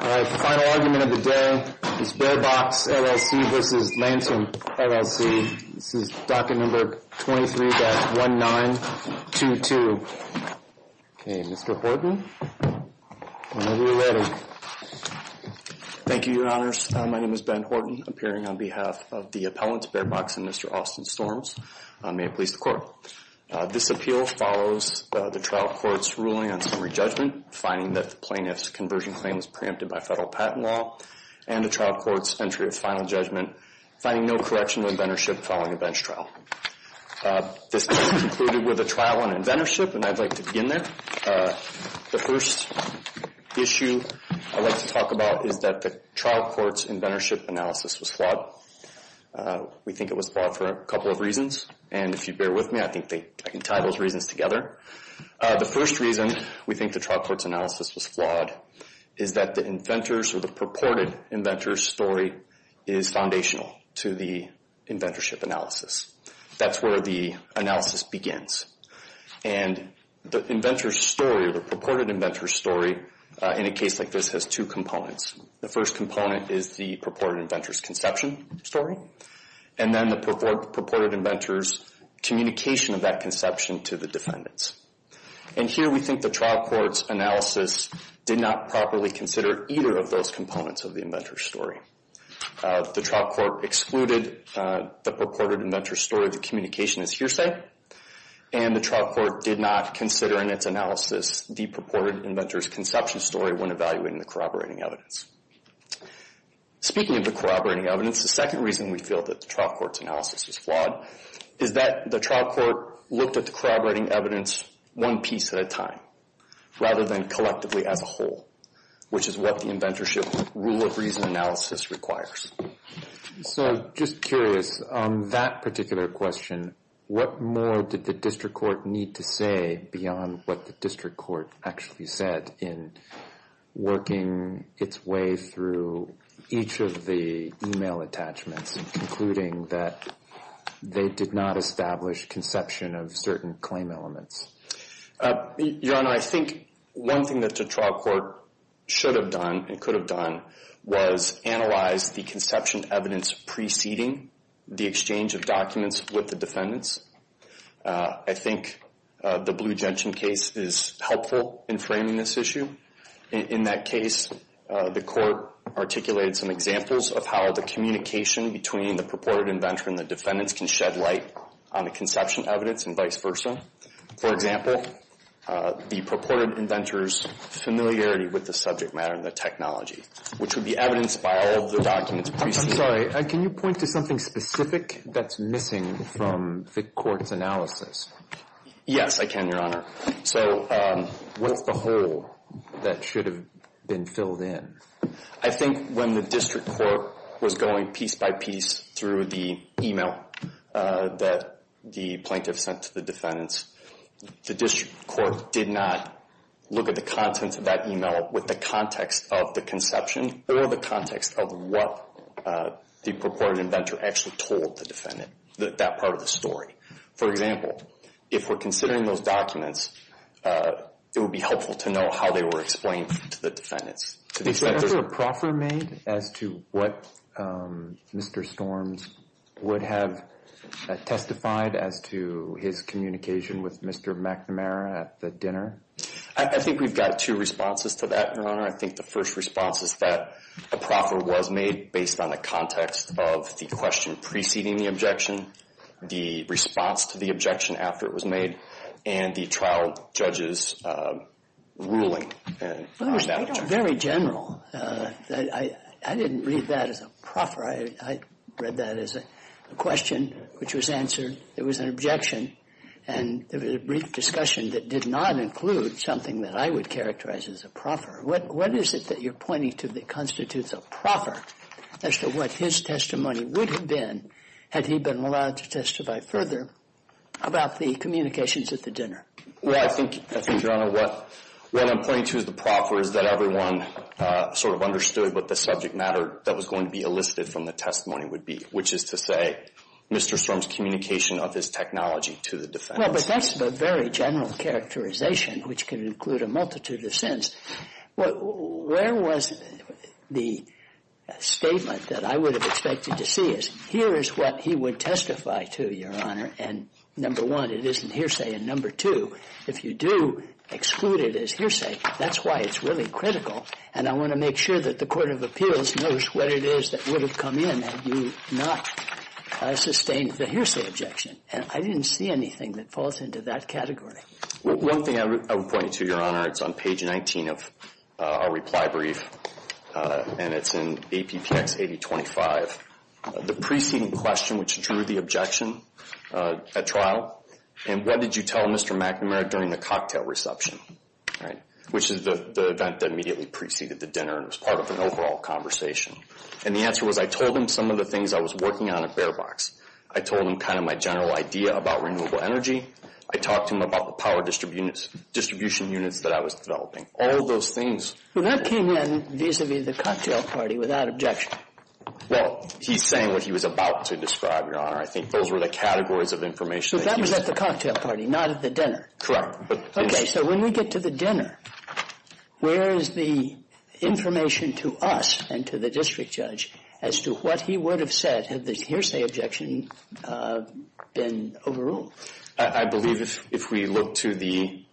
All right, final argument of the day is BearBox LLC v. Lancium LLC, this is docket number 23-1922. Okay, Mr. Horton, whenever you're ready. Thank you, Your Honors. My name is Ben Horton, appearing on behalf of the appellants BearBox and Mr. Austin Storms. May it please the Court. This appeal follows the trial court's ruling on summary judgment, finding that the plaintiff's conversion claim was preempted by federal patent law, and the trial court's entry of final judgment, finding no correction to inventorship following a bench trial. This case concluded with a trial on inventorship, and I'd like to begin there. The first issue I'd like to talk about is that the trial court's inventorship analysis was flawed. We think it was flawed for a couple of reasons, and if you bear with me, I think I can tie those reasons together. The first reason we think the trial court's analysis was flawed is that the inventor's or the purported inventor's story is foundational to the inventorship analysis. That's where the analysis begins. And the inventor's story or the purported inventor's story in a case like this has two components. The first component is the purported inventor's conception story, and then the purported inventor's communication of that conception to the defendants. And here we think the trial court's analysis did not properly consider either of those components of the inventor's story. The trial court excluded the purported inventor's story of the communication as hearsay, and the trial court did not consider in its analysis the purported inventor's conception story when evaluating the corroborating evidence. Speaking of the corroborating evidence, the second reason we feel that the trial court's analysis is flawed is that the trial court looked at the corroborating evidence one piece at a time rather than collectively as a whole, which is what the inventorship rule of reason analysis requires. So just curious, on that particular question, what more did the district court need to say beyond what the district court actually said in working its way through each of the e-mail attachments and concluding that they did not establish conception of certain claim elements? Your Honor, I think one thing that the trial court should have done and could have done was analyze the conception evidence preceding the exchange of documents with the defendants. I think the Blue Gentian case is helpful in framing this issue. In that case, the court articulated some examples of how the communication between the purported inventor and the defendants can shed light on the conception evidence and vice versa. For example, the purported inventor's familiarity with the subject matter and the technology, which would be evidenced by all of the documents. I'm sorry. Can you point to something specific that's missing from the court's analysis? Yes, I can, Your Honor. So what's the hole that should have been filled in? I think when the district court was going piece by piece through the e-mail that the plaintiff sent to the defendants, the district court did not look at the contents of that e-mail with the context of the conception or the context of what the purported inventor actually told the defendant, that part of the story. For example, if we're considering those documents, it would be helpful to know how they were explained to the defendants. Was there ever a proffer made as to what Mr. Storms would have testified as to his communication with Mr. McNamara at the dinner? I think we've got two responses to that, Your Honor. I think the first response is that a proffer was made based on the context of the question preceding the objection, the response to the objection after it was made, and the trial judge's ruling on that. Very general. I didn't read that as a proffer. I read that as a question which was answered. It was an objection. And there was a brief discussion that did not include something that I would characterize as a proffer. What is it that you're pointing to that constitutes a proffer as to what his testimony would have been had he been allowed to testify further about the communications at the dinner? Well, I think, Your Honor, what I'm pointing to as a proffer is that everyone sort of understood what the subject matter that was going to be elicited from the testimony would be, which is to say Mr. Storms' communication of his technology to the defendants. Well, but that's a very general characterization which can include a multitude of sins. Where was the statement that I would have expected to see is, here is what he would testify to, Your Honor, and number one, it isn't hearsay. And number two, if you do exclude it as hearsay, that's why it's really critical. And I want to make sure that the court of appeals knows what it is that would have come in had you not sustained the hearsay objection. I didn't see anything that falls into that category. One thing I would point to, Your Honor, it's on page 19 of our reply brief, and it's in APPX 8025. The preceding question, which drew the objection at trial, and what did you tell Mr. McNamara during the cocktail reception, right, which is the event that immediately preceded the dinner and was part of an overall conversation. And the answer was I told him some of the things I was working on at bare box. I told him kind of my general idea about renewable energy. I talked to him about the power distribution units that I was developing. All of those things. Well, that came in vis-à-vis the cocktail party without objection. Well, he's saying what he was about to describe, Your Honor. I think those were the categories of information. So that was at the cocktail party, not at the dinner. Correct. Okay, so when we get to the dinner, where is the information to us and to the district judge as to what he would have said had the hearsay objection been overruled? I believe if we look to the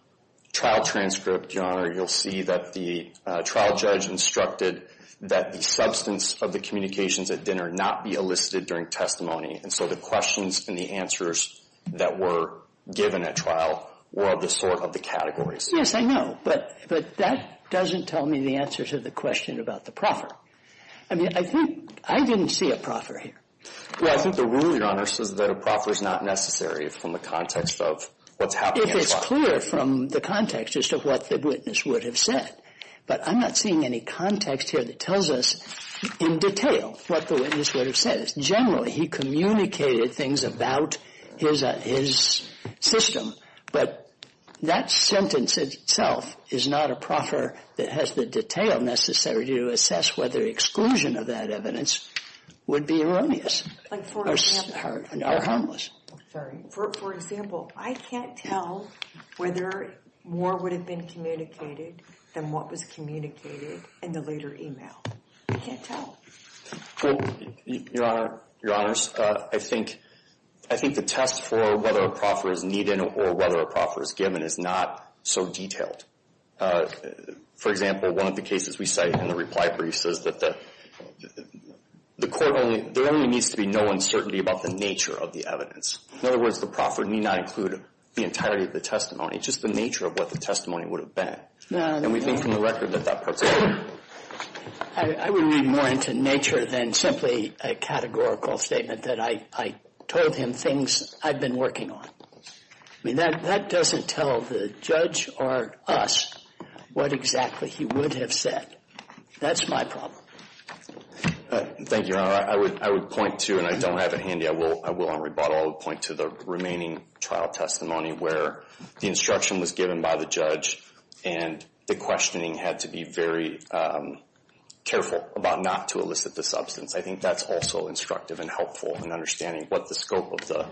trial transcript, Your Honor, you'll see that the trial judge instructed that the substance of the communications at dinner not be elicited during testimony. And so the questions and the answers that were given at trial were of the sort of the categories. Yes, I know. But that doesn't tell me the answers to the question about the proffer. I mean, I think I didn't see a proffer here. Well, I think the rule, Your Honor, says that a proffer is not necessary from the context of what's happening at trial. If it's clear from the context as to what the witness would have said. But I'm not seeing any context here that tells us in detail what the witness would have said. Generally, he communicated things about his system. But that sentence itself is not a proffer that has the detail necessary to assess whether exclusion of that evidence would be erroneous or harmless. For example, I can't tell whether more would have been communicated than what was communicated in the later email. I can't tell. Well, Your Honor, Your Honors, I think the test for whether a proffer is needed or whether a proffer is given is not so detailed. For example, one of the cases we cite in the reply brief says that the court only, there only needs to be no uncertainty about the nature of the evidence. In other words, the proffer need not include the entirety of the testimony, just the nature of what the testimony would have been. And we think from the record that that part's a proffer. I would read more into nature than simply a categorical statement that I told him things I've been working on. I mean, that doesn't tell the judge or us what exactly he would have said. That's my problem. Thank you, Your Honor. I would point to, and I don't have it handy, I will on rebuttal, point to the remaining trial testimony where the instruction was given by the judge and the questioning had to be very careful about not to elicit the substance. I think that's also instructive and helpful in understanding what the scope of the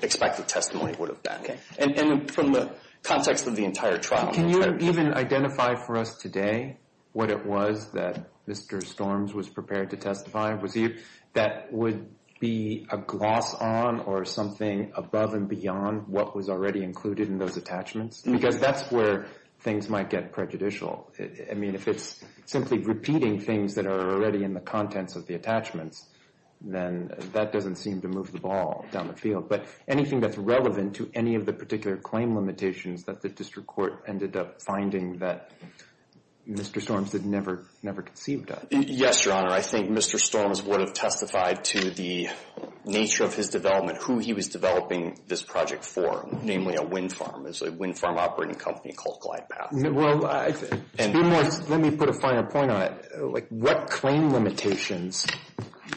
expected testimony would have been. Okay. And from the context of the entire trial. Can you even identify for us today what it was that Mr. Storms was prepared to testify? Was he that would be a gloss on or something above and beyond what was already included in those attachments? Because that's where things might get prejudicial. I mean, if it's simply repeating things that are already in the contents of the attachments, then that doesn't seem to move the ball down the field. But anything that's relevant to any of the particular claim limitations that the district court ended up finding that Mr. Storms had never conceived of? Yes, Your Honor. I think Mr. Storms would have testified to the nature of his development, who he was developing this project for, namely a wind farm. It's a wind farm operating company called GlidePath. Well, let me put a final point on it. What claim limitations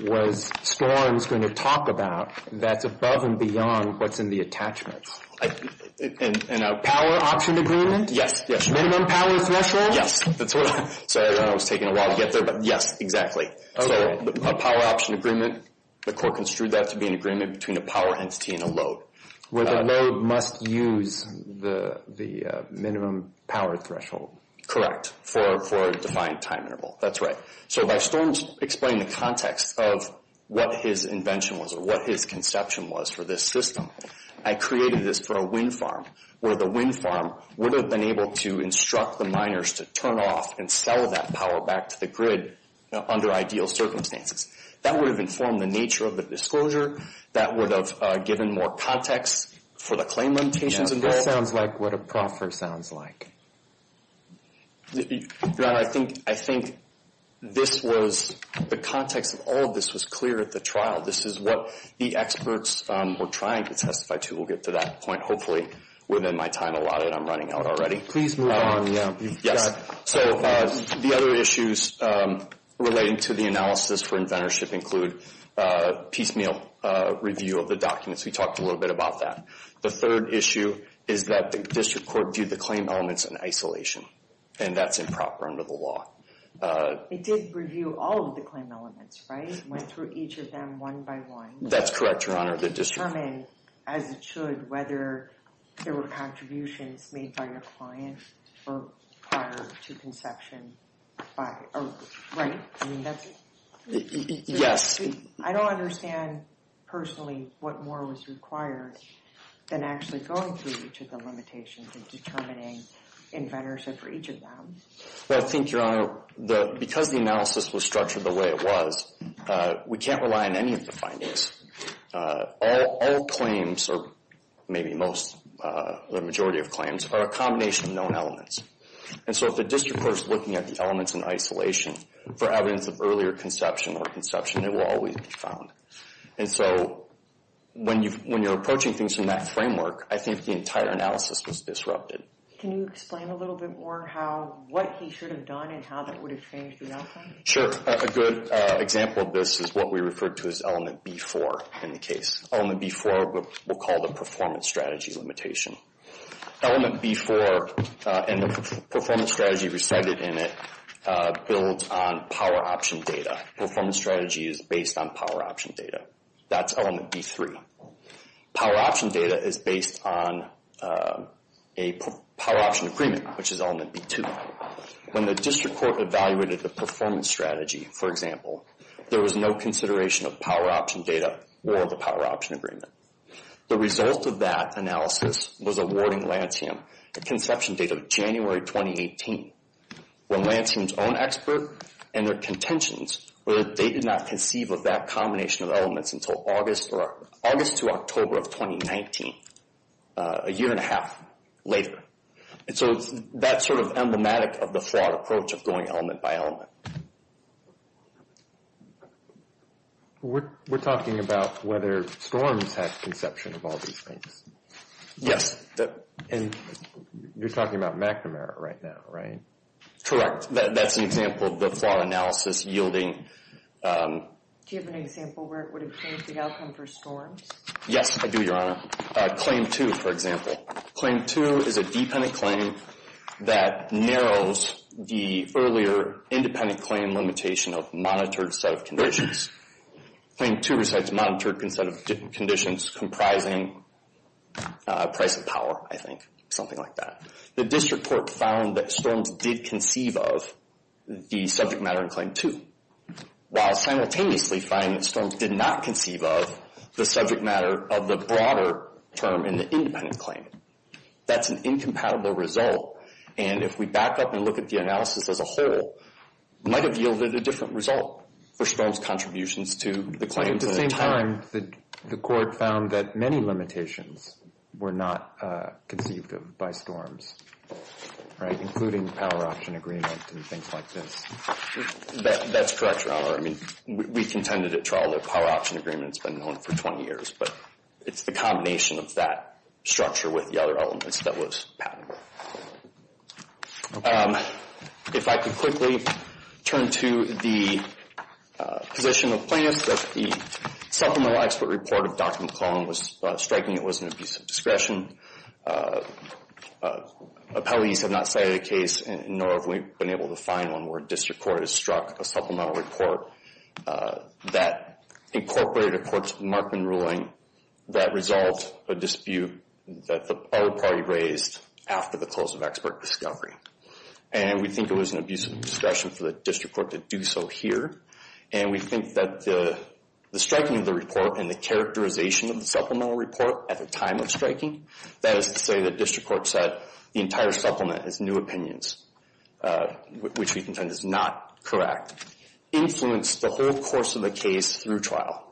was Storms going to talk about that's above and beyond what's in the attachments? A power option agreement? Yes, yes. Minimum power threshold? Yes. Sorry, I know it was taking a while to get there, but yes, exactly. A power option agreement, the court construed that to be an agreement between a power entity and a load. Where the load must use the minimum power threshold. Correct, for a defined time interval. That's right. So by Storms explaining the context of what his invention was or what his conception was for this system, I created this for a wind farm, where the wind farm would have been able to instruct the miners to turn off and sell that power back to the grid under ideal circumstances. That would have informed the nature of the disclosure. That would have given more context for the claim limitations. That sounds like what a proffer sounds like. Your Honor, I think this was the context of all of this was clear at the trial. This is what the experts were trying to testify to. We'll get to that point, hopefully, within my time allotted. I'm running out already. Please move on. Yes. So the other issues relating to the analysis for inventorship include piecemeal review of the documents. We talked a little bit about that. The third issue is that the district court viewed the claim elements in isolation, and that's improper under the law. It did review all of the claim elements, right? It went through each of them one by one. That's correct, Your Honor. To determine, as it should, whether there were contributions made by your client prior to conception. Right? Yes. I don't understand, personally, what more was required than actually going through each of the limitations and determining inventorship for each of them. Well, I think, Your Honor, because the analysis was structured the way it was, we can't rely on any of the findings. All claims, or maybe most, the majority of claims, are a combination of known elements. And so if the district court is looking at the elements in isolation for evidence of earlier conception or conception, it will always be found. And so when you're approaching things in that framework, I think the entire analysis was disrupted. Can you explain a little bit more what he should have done and how that would have changed the outcome? Sure. A good example of this is what we referred to as element B4 in the case. Element B4 we'll call the performance strategy limitation. Element B4 and the performance strategy recited in it builds on power option data. Performance strategy is based on power option data. That's element B3. Power option data is based on a power option agreement, which is element B2. When the district court evaluated the performance strategy, for example, there was no consideration of power option data or the power option agreement. The result of that analysis was awarding Lansing a conception date of January 2018. When Lansing's own expert and their contentions were that they did not conceive of that combination of elements until August to October of 2019, a year and a half later. And so that's sort of emblematic of the fraud approach of going element by element. We're talking about whether Storms had conception of all these things. Yes. And you're talking about McNamara right now, right? Correct. That's an example of the fraud analysis yielding. Do you have an example where it would have changed the outcome for Storms? Yes, I do, Your Honor. Claim 2, for example. Claim 2 is a dependent claim that narrows the earlier independent claim limitation of monitored set of conditions. Claim 2 recites monitored set of conditions comprising price and power, I think. Something like that. The district court found that Storms did conceive of the subject matter in Claim 2. While simultaneously finding that Storms did not conceive of the subject matter of the broader term in the independent claim. That's an incompatible result. And if we back up and look at the analysis as a whole, it might have yielded a different result for Storms' contributions to the claim. At the same time, the court found that many limitations were not conceived of by Storms, right? Including power option agreement and things like this. That's correct, Your Honor. I mean, we contended at trial that power option agreement has been known for 20 years. But it's the combination of that structure with the other elements that was patented. If I could quickly turn to the position of plaintiffs, that the supplemental expert report of Dr. McClellan was striking it was an abuse of discretion. Appellees have not cited a case, nor have we been able to find one, where district court has struck a supplemental report that incorporated a court's Markman ruling that resolved a dispute that the other party raised after the close of expert discovery. And we think it was an abuse of discretion for the district court to do so here. And we think that the striking of the report and the characterization of the supplemental report at the time of striking, that is to say the district court said the entire supplement is new opinions, which we contend is not correct, influenced the whole course of the case through trial.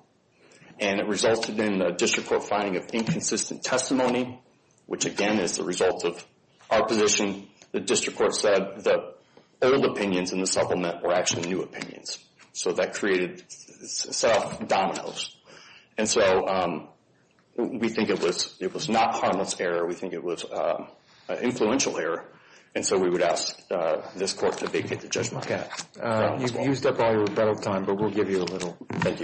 And it resulted in a district court finding of inconsistent testimony, which again is the result of opposition. The district court said that old opinions in the supplement were actually new opinions. So that created dominoes. And so we think it was not harmless error. We think it was an influential error. And so we would ask this court to vacate the judgment. You've used up all your rebuttal time, but we'll give you a little. May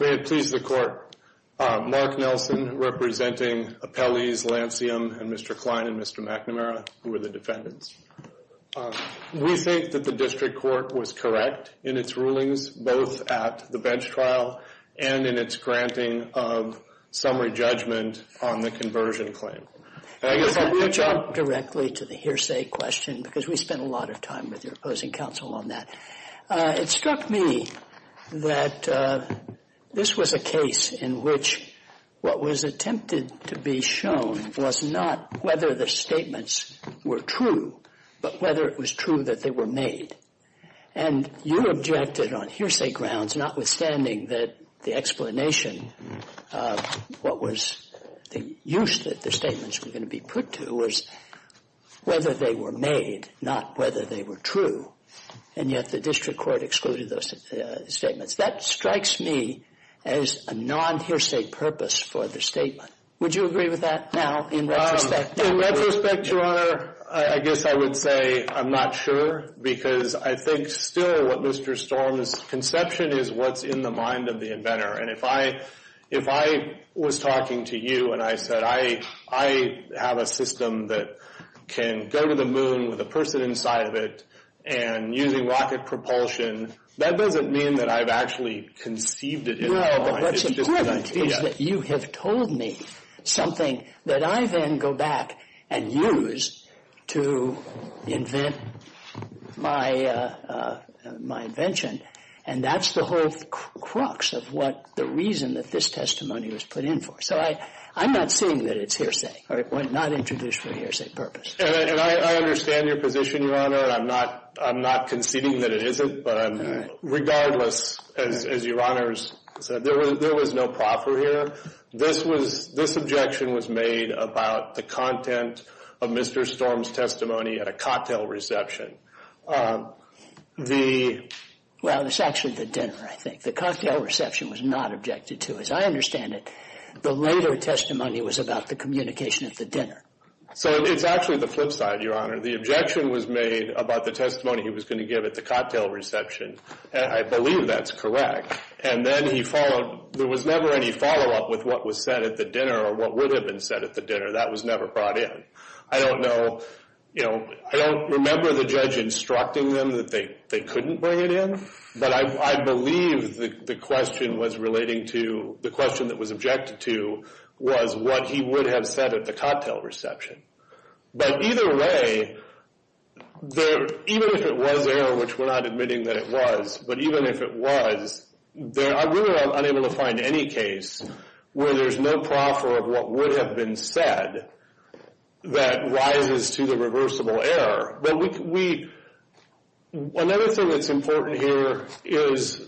it please the court. Mark Nelson representing appellees Lancium and Mr. Klein and Mr. McNamara, who were the defendants. We think that the district court was correct in its rulings, both at the bench trial and in its granting of summary judgment on the conversion claim. I guess I'll put you directly to the hearsay question, because we spent a lot of time with your opposing counsel on that. It struck me that this was a case in which what was attempted to be shown was not whether the statements were true, but whether it was true that they were made. And you objected on hearsay grounds, notwithstanding that the explanation of what was the use that the statements were going to be put to was whether they were made, not whether they were true. And yet the district court excluded those statements. That strikes me as a non-hearsay purpose for the statement. Would you agree with that now in retrospect? In retrospect, Your Honor, I guess I would say I'm not sure, because I think still what Mr. Storm's conception is what's in the mind of the inventor. And if I was talking to you and I said I have a system that can go to the moon with a person inside of it and using rocket propulsion, that doesn't mean that I've actually conceived it in my mind. No, but what's important is that you have told me something that I then go back and use to invent my invention. And that's the whole crux of what the reason that this testimony was put in for. So I'm not saying that it's hearsay, or not introduced for a hearsay purpose. And I understand your position, Your Honor. I'm not conceding that it isn't, but regardless, as Your Honor said, there was no proffer here. This objection was made about the content of Mr. Storm's testimony at a cocktail reception. Well, it's actually the dinner, I think. The cocktail reception was not objected to. As I understand it, the later testimony was about the communication at the dinner. So it's actually the flip side, Your Honor. The objection was made about the testimony he was going to give at the cocktail reception, and I believe that's correct. And then there was never any follow-up with what was said at the dinner or what would have been said at the dinner. That was never brought in. I don't remember the judge instructing them that they couldn't bring it in, but I believe the question that was objected to was what he would have said at the cocktail reception. But either way, even if it was there, which we're not admitting that it was, but even if it was, I'm really unable to find any case where there's no proffer of what would have been said that rises to the reversible error. Another thing that's important here is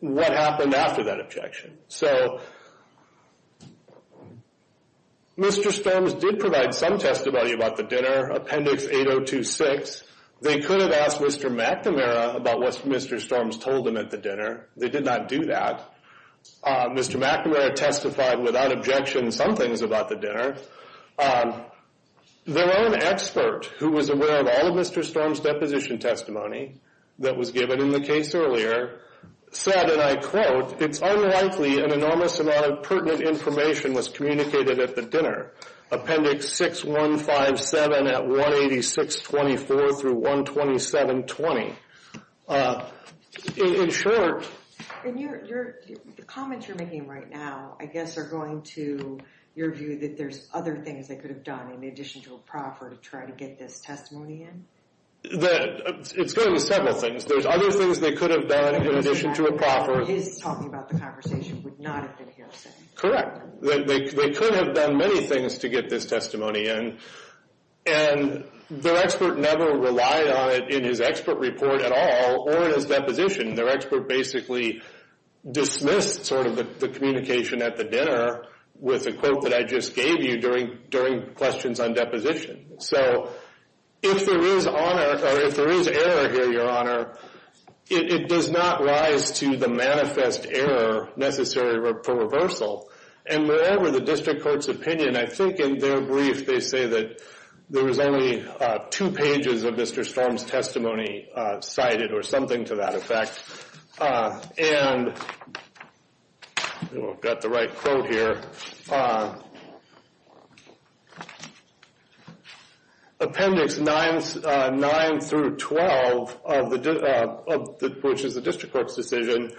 what happened after that objection. So Mr. Storms did provide some testimony about the dinner, Appendix 8026. They could have asked Mr. McNamara about what Mr. Storms told them at the dinner. They did not do that. Mr. McNamara testified without objection in some things about the dinner. Their own expert, who was aware of all of Mr. Storms' deposition testimony that was given in the case earlier, said, and I quote, it's unlikely an enormous amount of pertinent information was communicated at the dinner. Appendix 6157 at 18624 through 12720. In short... And the comments you're making right now, I guess, are going to your view that there's other things they could have done in addition to a proffer to try to get this testimony in? It's going to be several things. There's other things they could have done in addition to a proffer. His talking about the conversation would not have been hearsay. Correct. They could have done many things to get this testimony in. And their expert never relied on it in his expert report at all or in his deposition. Their expert basically dismissed sort of the communication at the dinner with a quote that I just gave you during questions on deposition. So, if there is error here, Your Honor, it does not rise to the manifest error necessary for reversal. And moreover, the district court's opinion, I think in their brief, they say that there was only two pages of Mr. Storms' testimony cited or something to that effect. And I've got the right quote here. Appendix 9 through 12, which is the district court's decision,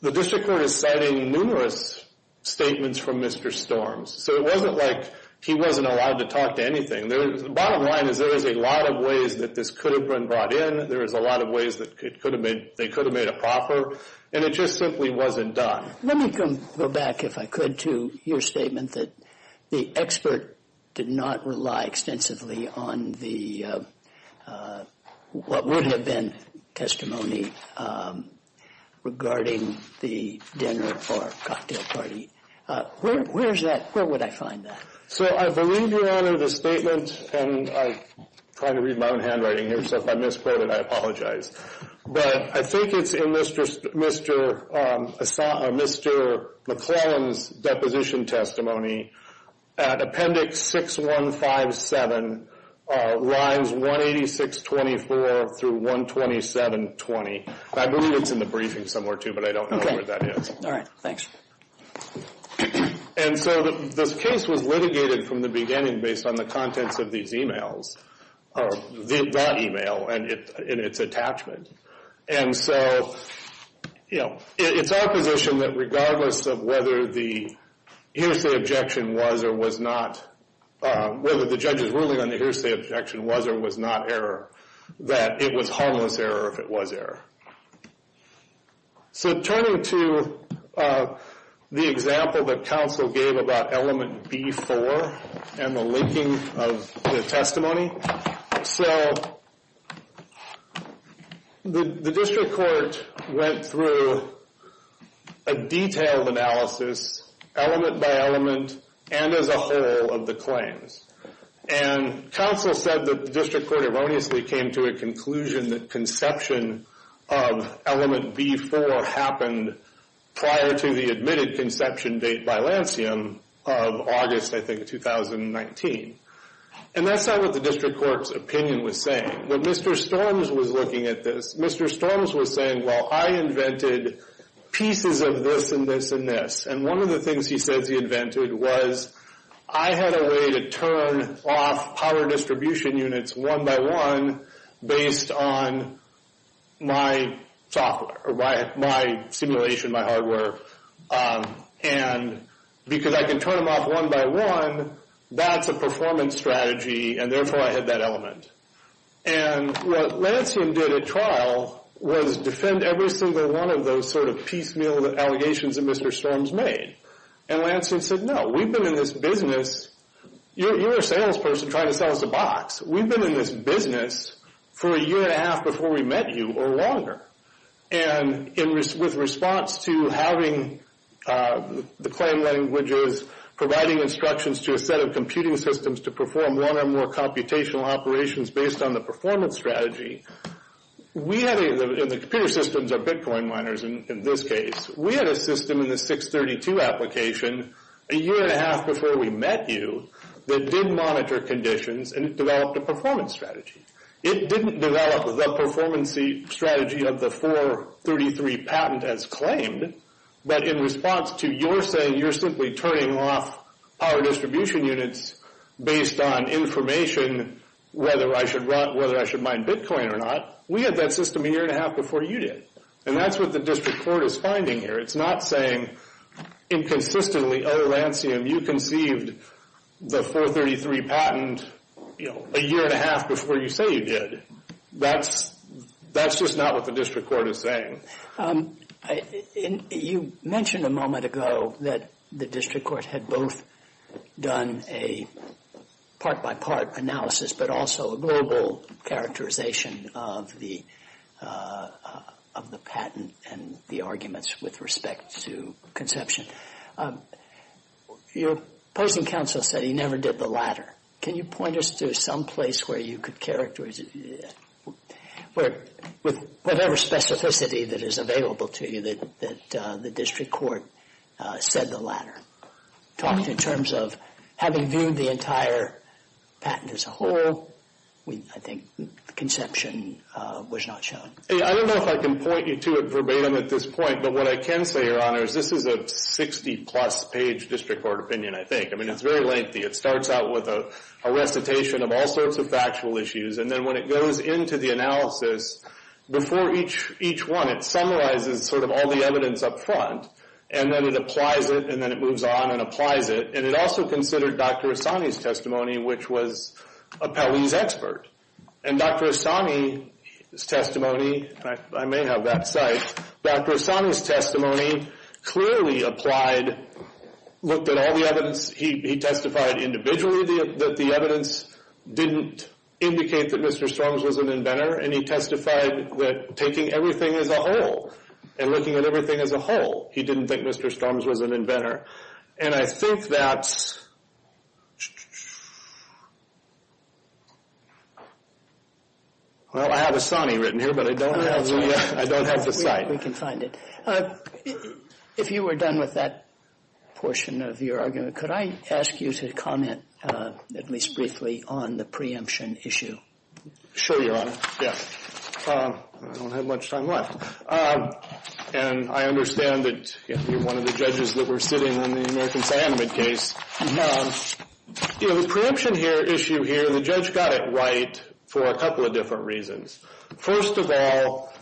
the district court is citing numerous statements from Mr. Storms. So, it wasn't like he wasn't allowed to talk to anything. The bottom line is there is a lot of ways that this could have been brought in. There is a lot of ways that they could have made a proffer. And it just simply wasn't done. Let me go back, if I could, to your statement that the expert did not rely extensively on what would have been testimony regarding the dinner or cocktail party. Where is that? Where would I find that? So, I believe, Your Honor, the statement, and I'm trying to read my own handwriting here, so if I misquote it, I apologize. But I think it's in Mr. McClellan's deposition testimony. Appendix 6157, lines 18624 through 12720. I believe it's in the briefing somewhere, too, but I don't know where that is. All right. Thanks. And so, this case was litigated from the beginning based on the contents of these emails, or that email and its attachment. And so, you know, it's our position that regardless of whether the hearsay objection was or was not, whether the judge's ruling on the hearsay objection was or was not error, that it was harmless error if it was error. So, turning to the example that counsel gave about element B4, and the linking of the testimony. So, the district court went through a detailed analysis, element by element, and as a whole of the claims. And counsel said that the district court erroneously came to a conclusion that conception of element B4 happened prior to the admitted conception date by Lancium of August, I think, 2019. And that's not what the district court's opinion was saying. When Mr. Storms was looking at this, Mr. Storms was saying, well, I invented pieces of this and this and this. And one of the things he says he invented was, I had a way to turn off power distribution units one by one based on my software, or my simulation, my hardware. And because I can turn them off one by one, that's a performance strategy, and therefore I had that element. And what Lancium did at trial was defend every single one of those sort of piecemeal allegations that Mr. Storms made. And Lancium said, no, we've been in this business. You're a salesperson trying to sell us a box. We've been in this business for a year and a half before we met you, or longer. And with response to having the claim languages, providing instructions to a set of computing systems to perform one or more computational operations based on the performance strategy, and the computer systems are Bitcoin miners in this case, we had a system in the 632 application a year and a half before we met you that did monitor conditions and developed a performance strategy. It didn't develop the performance strategy of the 433 patent as claimed, but in response to your saying you're simply turning off power distribution units based on information, whether I should mine Bitcoin or not, we had that system a year and a half before you did. And that's what the district court is finding here. It's not saying inconsistently, oh, Lancium, you conceived the 433 patent a year and a half before you say you did. That's just not what the district court is saying. You mentioned a moment ago that the district court had both done a part-by-part analysis but also a global characterization of the patent and the arguments with respect to conception. Your opposing counsel said he never did the latter. Can you point us to some place where you could characterize it with whatever specificity that is available to you that the district court said the latter? Talking in terms of having viewed the entire patent as a whole, I think conception was not shown. I don't know if I can point you to it verbatim at this point, but what I can say, Your Honor, is this is a 60-plus page district court opinion, I think. I mean, it's very lengthy. It starts out with a recitation of all sorts of factual issues, and then when it goes into the analysis, before each one it summarizes sort of all the evidence up front, and then it applies it, and then it moves on and applies it, and it also considered Dr. Asani's testimony, which was a Pelley's expert. And Dr. Asani's testimony, I may have that cite, Dr. Asani's testimony clearly applied, looked at all the evidence, he testified individually that the evidence didn't indicate that Mr. Storms was an inventor, and he testified that taking everything as a whole and looking at everything as a whole, he didn't think Mr. Storms was an inventor. And I think that's, well, I have Asani written here, but I don't have the cite. We can find it. If you were done with that portion of your argument, could I ask you to comment at least briefly on the preemption issue? Sure, Your Honor. Yes. I don't have much time left. And I understand that you're one of the judges that were sitting on the American cyanamide case. You know, the preemption issue here, the judge got it right for a couple of different reasons. First of all,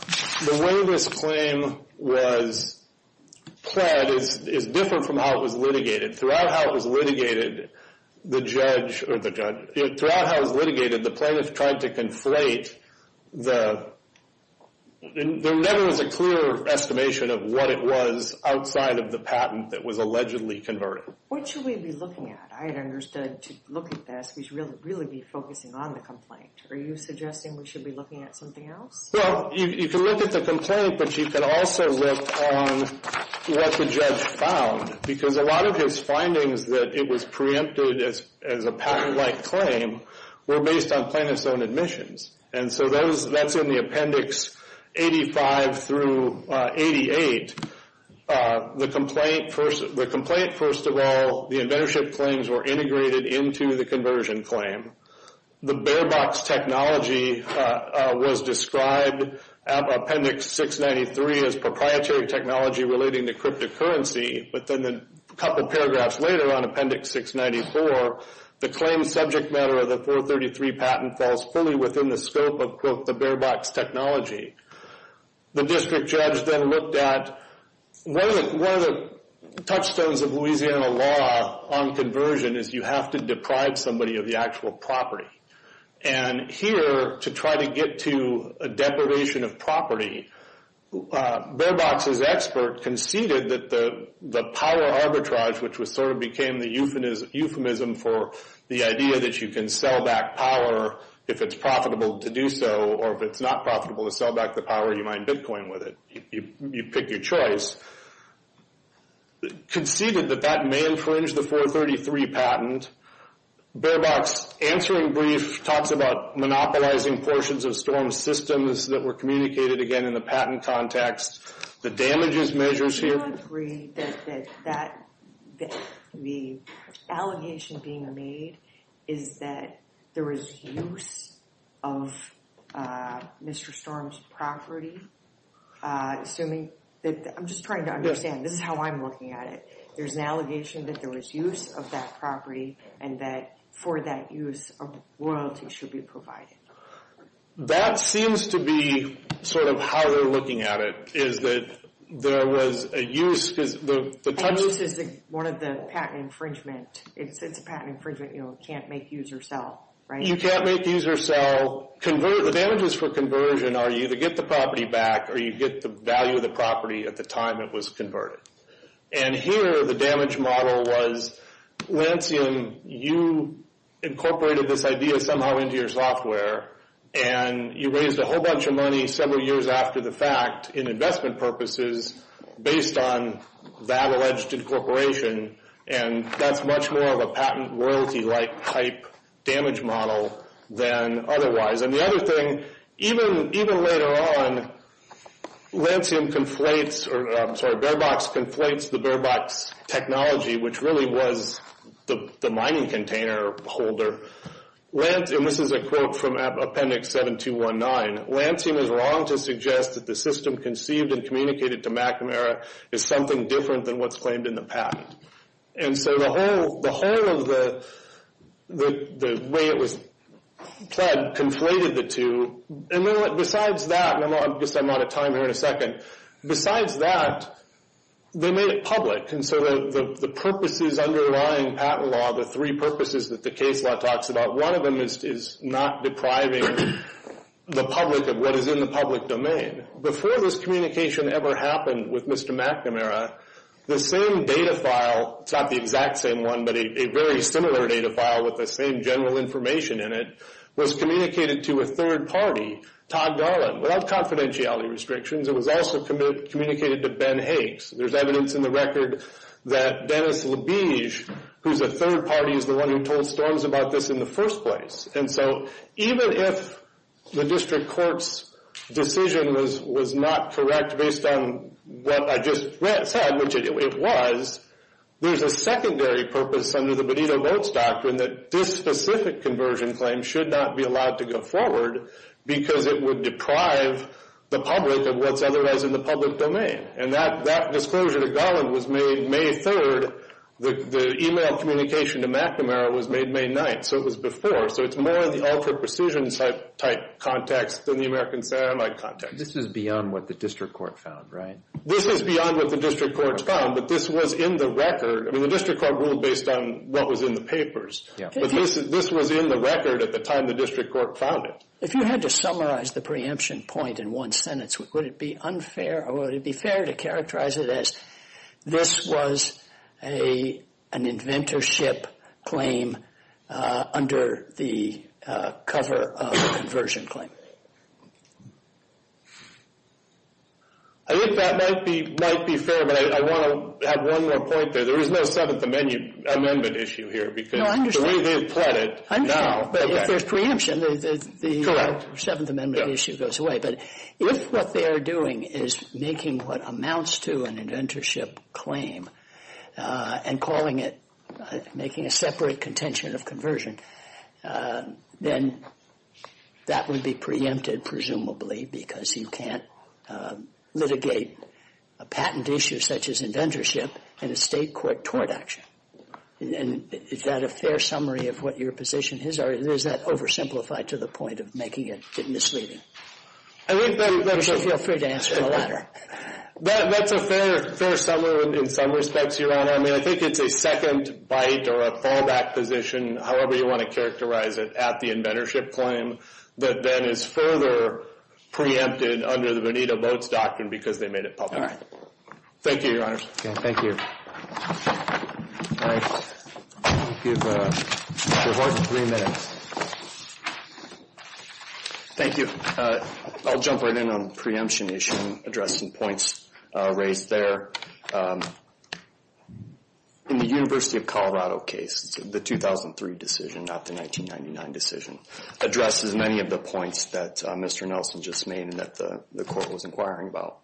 the way this claim was pled is different from how it was litigated. Throughout how it was litigated, the judge, or the judge, throughout how it was litigated, the plaintiff tried to conflate the, there never was a clear estimation of what it was outside of the patent that was allegedly converted. What should we be looking at? I had understood to look at this, we should really be focusing on the complaint. Are you suggesting we should be looking at something else? Well, you can look at the complaint, but you can also look on what the judge found. Because a lot of his findings that it was preempted as a patent-like claim were based on plaintiff's own admissions. And so that's in the Appendix 85 through 88. The complaint, first of all, the inventorship claims were integrated into the conversion claim. The bare-box technology was described, Appendix 693, as proprietary technology relating to cryptocurrency. But then a couple paragraphs later on Appendix 694, the claim subject matter of the 433 patent falls fully within the scope of, quote, the bare-box technology. The district judge then looked at, one of the touchstones of Louisiana law on conversion is you have to deprive somebody of the actual property. And here, to try to get to a deprivation of property, bare-box's expert conceded that the power arbitrage, which sort of became the euphemism for the idea that you can sell back power if it's profitable to do so, or if it's not profitable to sell back the power, you mine Bitcoin with it. You pick your choice. Conceded that that may infringe the 433 patent, Bare-box's answering brief talks about monopolizing portions of Storm's systems that were communicated, again, in the patent context. The damages measures here... Do you agree that the allegation being made is that there is use of Mr. Storm's property? Assuming that... I'm just trying to understand. This is how I'm looking at it. There's an allegation that there was use of that property and that for that use, a royalty should be provided. That seems to be sort of how they're looking at it. Is that there was a use... A use is one of the patent infringement. It's a patent infringement. You can't make, use, or sell. You can't make, use, or sell. The damages for conversion are you either get the property back or you get the value of the property at the time it was converted. Here, the damage model was, Lancium, you incorporated this idea somehow into your software and you raised a whole bunch of money several years after the fact in investment purposes based on that alleged incorporation. That's much more of a patent royalty-like type damage model than otherwise. The other thing, even later on, Lancium conflates, or I'm sorry, Bearbox conflates the Bearbox technology which really was the mining container holder. Lancium, this is a quote from Appendix 7219, Lancium is wrong to suggest that the system conceived and communicated to McNamara is something different than what's claimed in the patent. The whole of the way it was pled conflated the two. Besides that, I guess I'm out of time here in a second, besides that, they made it public. The purposes underlying patent law, the three purposes that the case law talks about, one of them is not depriving the public of what is in the public domain. Before this communication ever happened with Mr. McNamara, the same data file, it's not the exact same one, but a very similar data file with the same general information in it, was communicated to a third party, Todd Garland, without confidentiality restrictions. It was also communicated to Ben Higgs. There's evidence in the record that Dennis Labige, who's a third party, is the one who told Storms about this in the first place. Even if the district court's decision was not correct based on what I just said, which it was, there's a secondary purpose under the Benito-Votes doctrine that this specific conversion claim should not be allowed to go forward because it would deprive the public of what's otherwise in the public domain. And that disclosure to Garland was made May 3rd. The email communication to McNamara was made May 9th. So it was before. So it's more of the ultra-precision type context than the American Samite context. This is beyond what the district court found, right? This is beyond what the district court found, but this was in the record. I mean, the district court ruled based on what was in the papers. But this was in the record at the time the district court found it. If you had to summarize the preemption point in one sentence, would it be unfair or would it be fair to characterize it as this was an inventorship claim under the cover of a conversion claim? I think that might be fair, but I want to add one more point there. There is no Seventh Amendment issue here. No, I understand. If there's preemption, the Seventh Amendment issue goes away. But if what they are doing is making what amounts to an inventorship claim and calling it making a separate contention of conversion, then that would be preempted, presumably, because you can't litigate a patent issue such as inventorship in a state court tort action. Is that a fair summary of what your position is? Or is that oversimplified to the point of making it misleading? You should feel free to answer the latter. That's a fair summary in some respects, Your Honor. I mean, I think it's a second bite or a fallback position, however you want to characterize it, at the inventorship claim that then is further preempted under the Bonita Boats Doctrine because they made it public. All right. Thank you, Your Honors. Thank you. All right. You have three minutes. Thank you. I'll jump right in on the preemption issue and address some points raised there. In the University of Colorado case, the 2003 decision, not the 1999 decision, addresses many of the points that Mr. Nelson just made and that the court was inquiring about.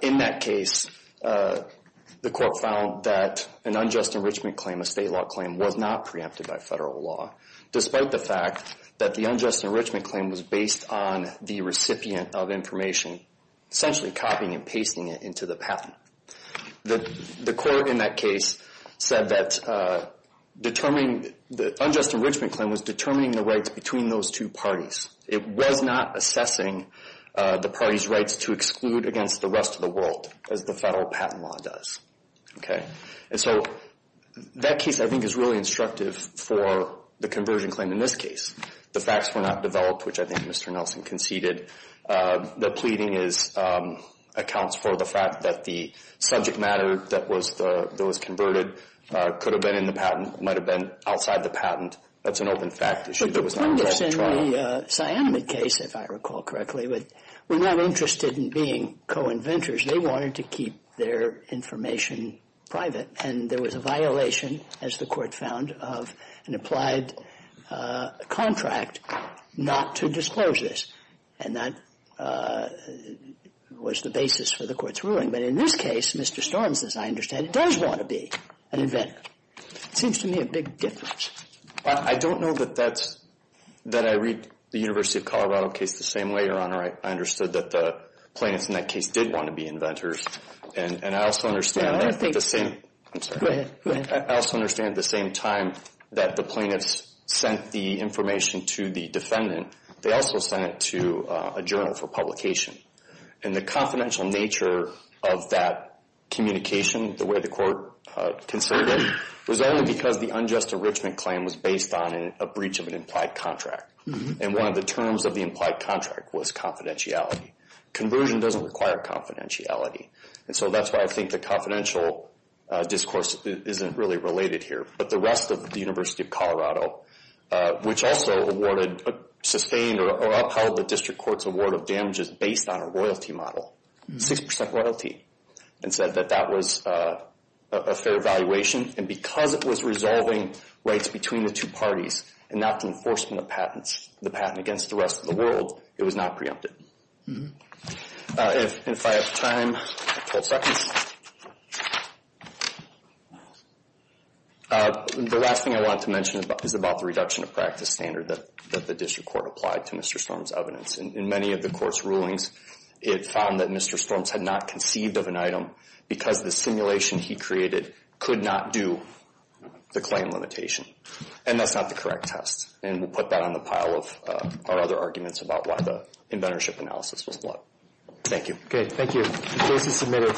In that case, the court found that an unjust enrichment claim, a state law claim, was not preempted by federal law despite the fact that the unjust enrichment claim was based on the recipient of information, essentially copying and pasting it into the patent. The court in that case said that determining the unjust enrichment claim was determining the rights between those two parties. It was not assessing the parties' rights to exclude against the rest of the world as the federal patent law does. Okay. And so that case, I think, is really instructive for the conversion claim in this case. The facts were not developed, which I think Mr. Nelson conceded. The pleading accounts for the fact that the subject matter that was converted could have been in the patent, might have been outside the patent. That's an open fact issue. The plaintiffs in the cyanamide case, if I recall correctly, were not interested in being co-inventors. They wanted to keep their information private, and there was a violation, as the court found, of an applied contract not to disclose this. And that was the basis for the court's ruling. But in this case, Mr. Storms, as I understand it, does want to be an inventor. It seems to me a big difference. I don't know that I read the University of Colorado case the same way, Your Honor. I understood that the plaintiffs in that case did want to be inventors. And I also understand at the same time that the plaintiffs sent the information to the defendant, they also sent it to a journal for publication. And the confidential nature of that communication, the way the court considered it, was only because the unjust enrichment claim was based on a breach of an implied contract. And one of the terms of the implied contract was confidentiality. Conversion doesn't require confidentiality. And so that's why I think the confidential discourse isn't really related here. But the rest of the University of Colorado, which also awarded, sustained, or upheld the district court's award of damages based on a royalty model, 6% royalty, and said that that was a fair evaluation. And because it was resolving rights between the two parties and not the enforcement of patents, the patent against the rest of the world, it was not preempted. If I have time, 12 seconds. The last thing I want to mention is about the reduction of practice standard that the district court applied to Mr. Storms' evidence. In many of the court's rulings, it found that Mr. Storms had not conceived of an item because the simulation he created could not do the claim limitation. And that's not the correct test. And we'll put that on the pile of our other arguments about why the inventorship analysis was flawed. Thank you. Okay, thank you.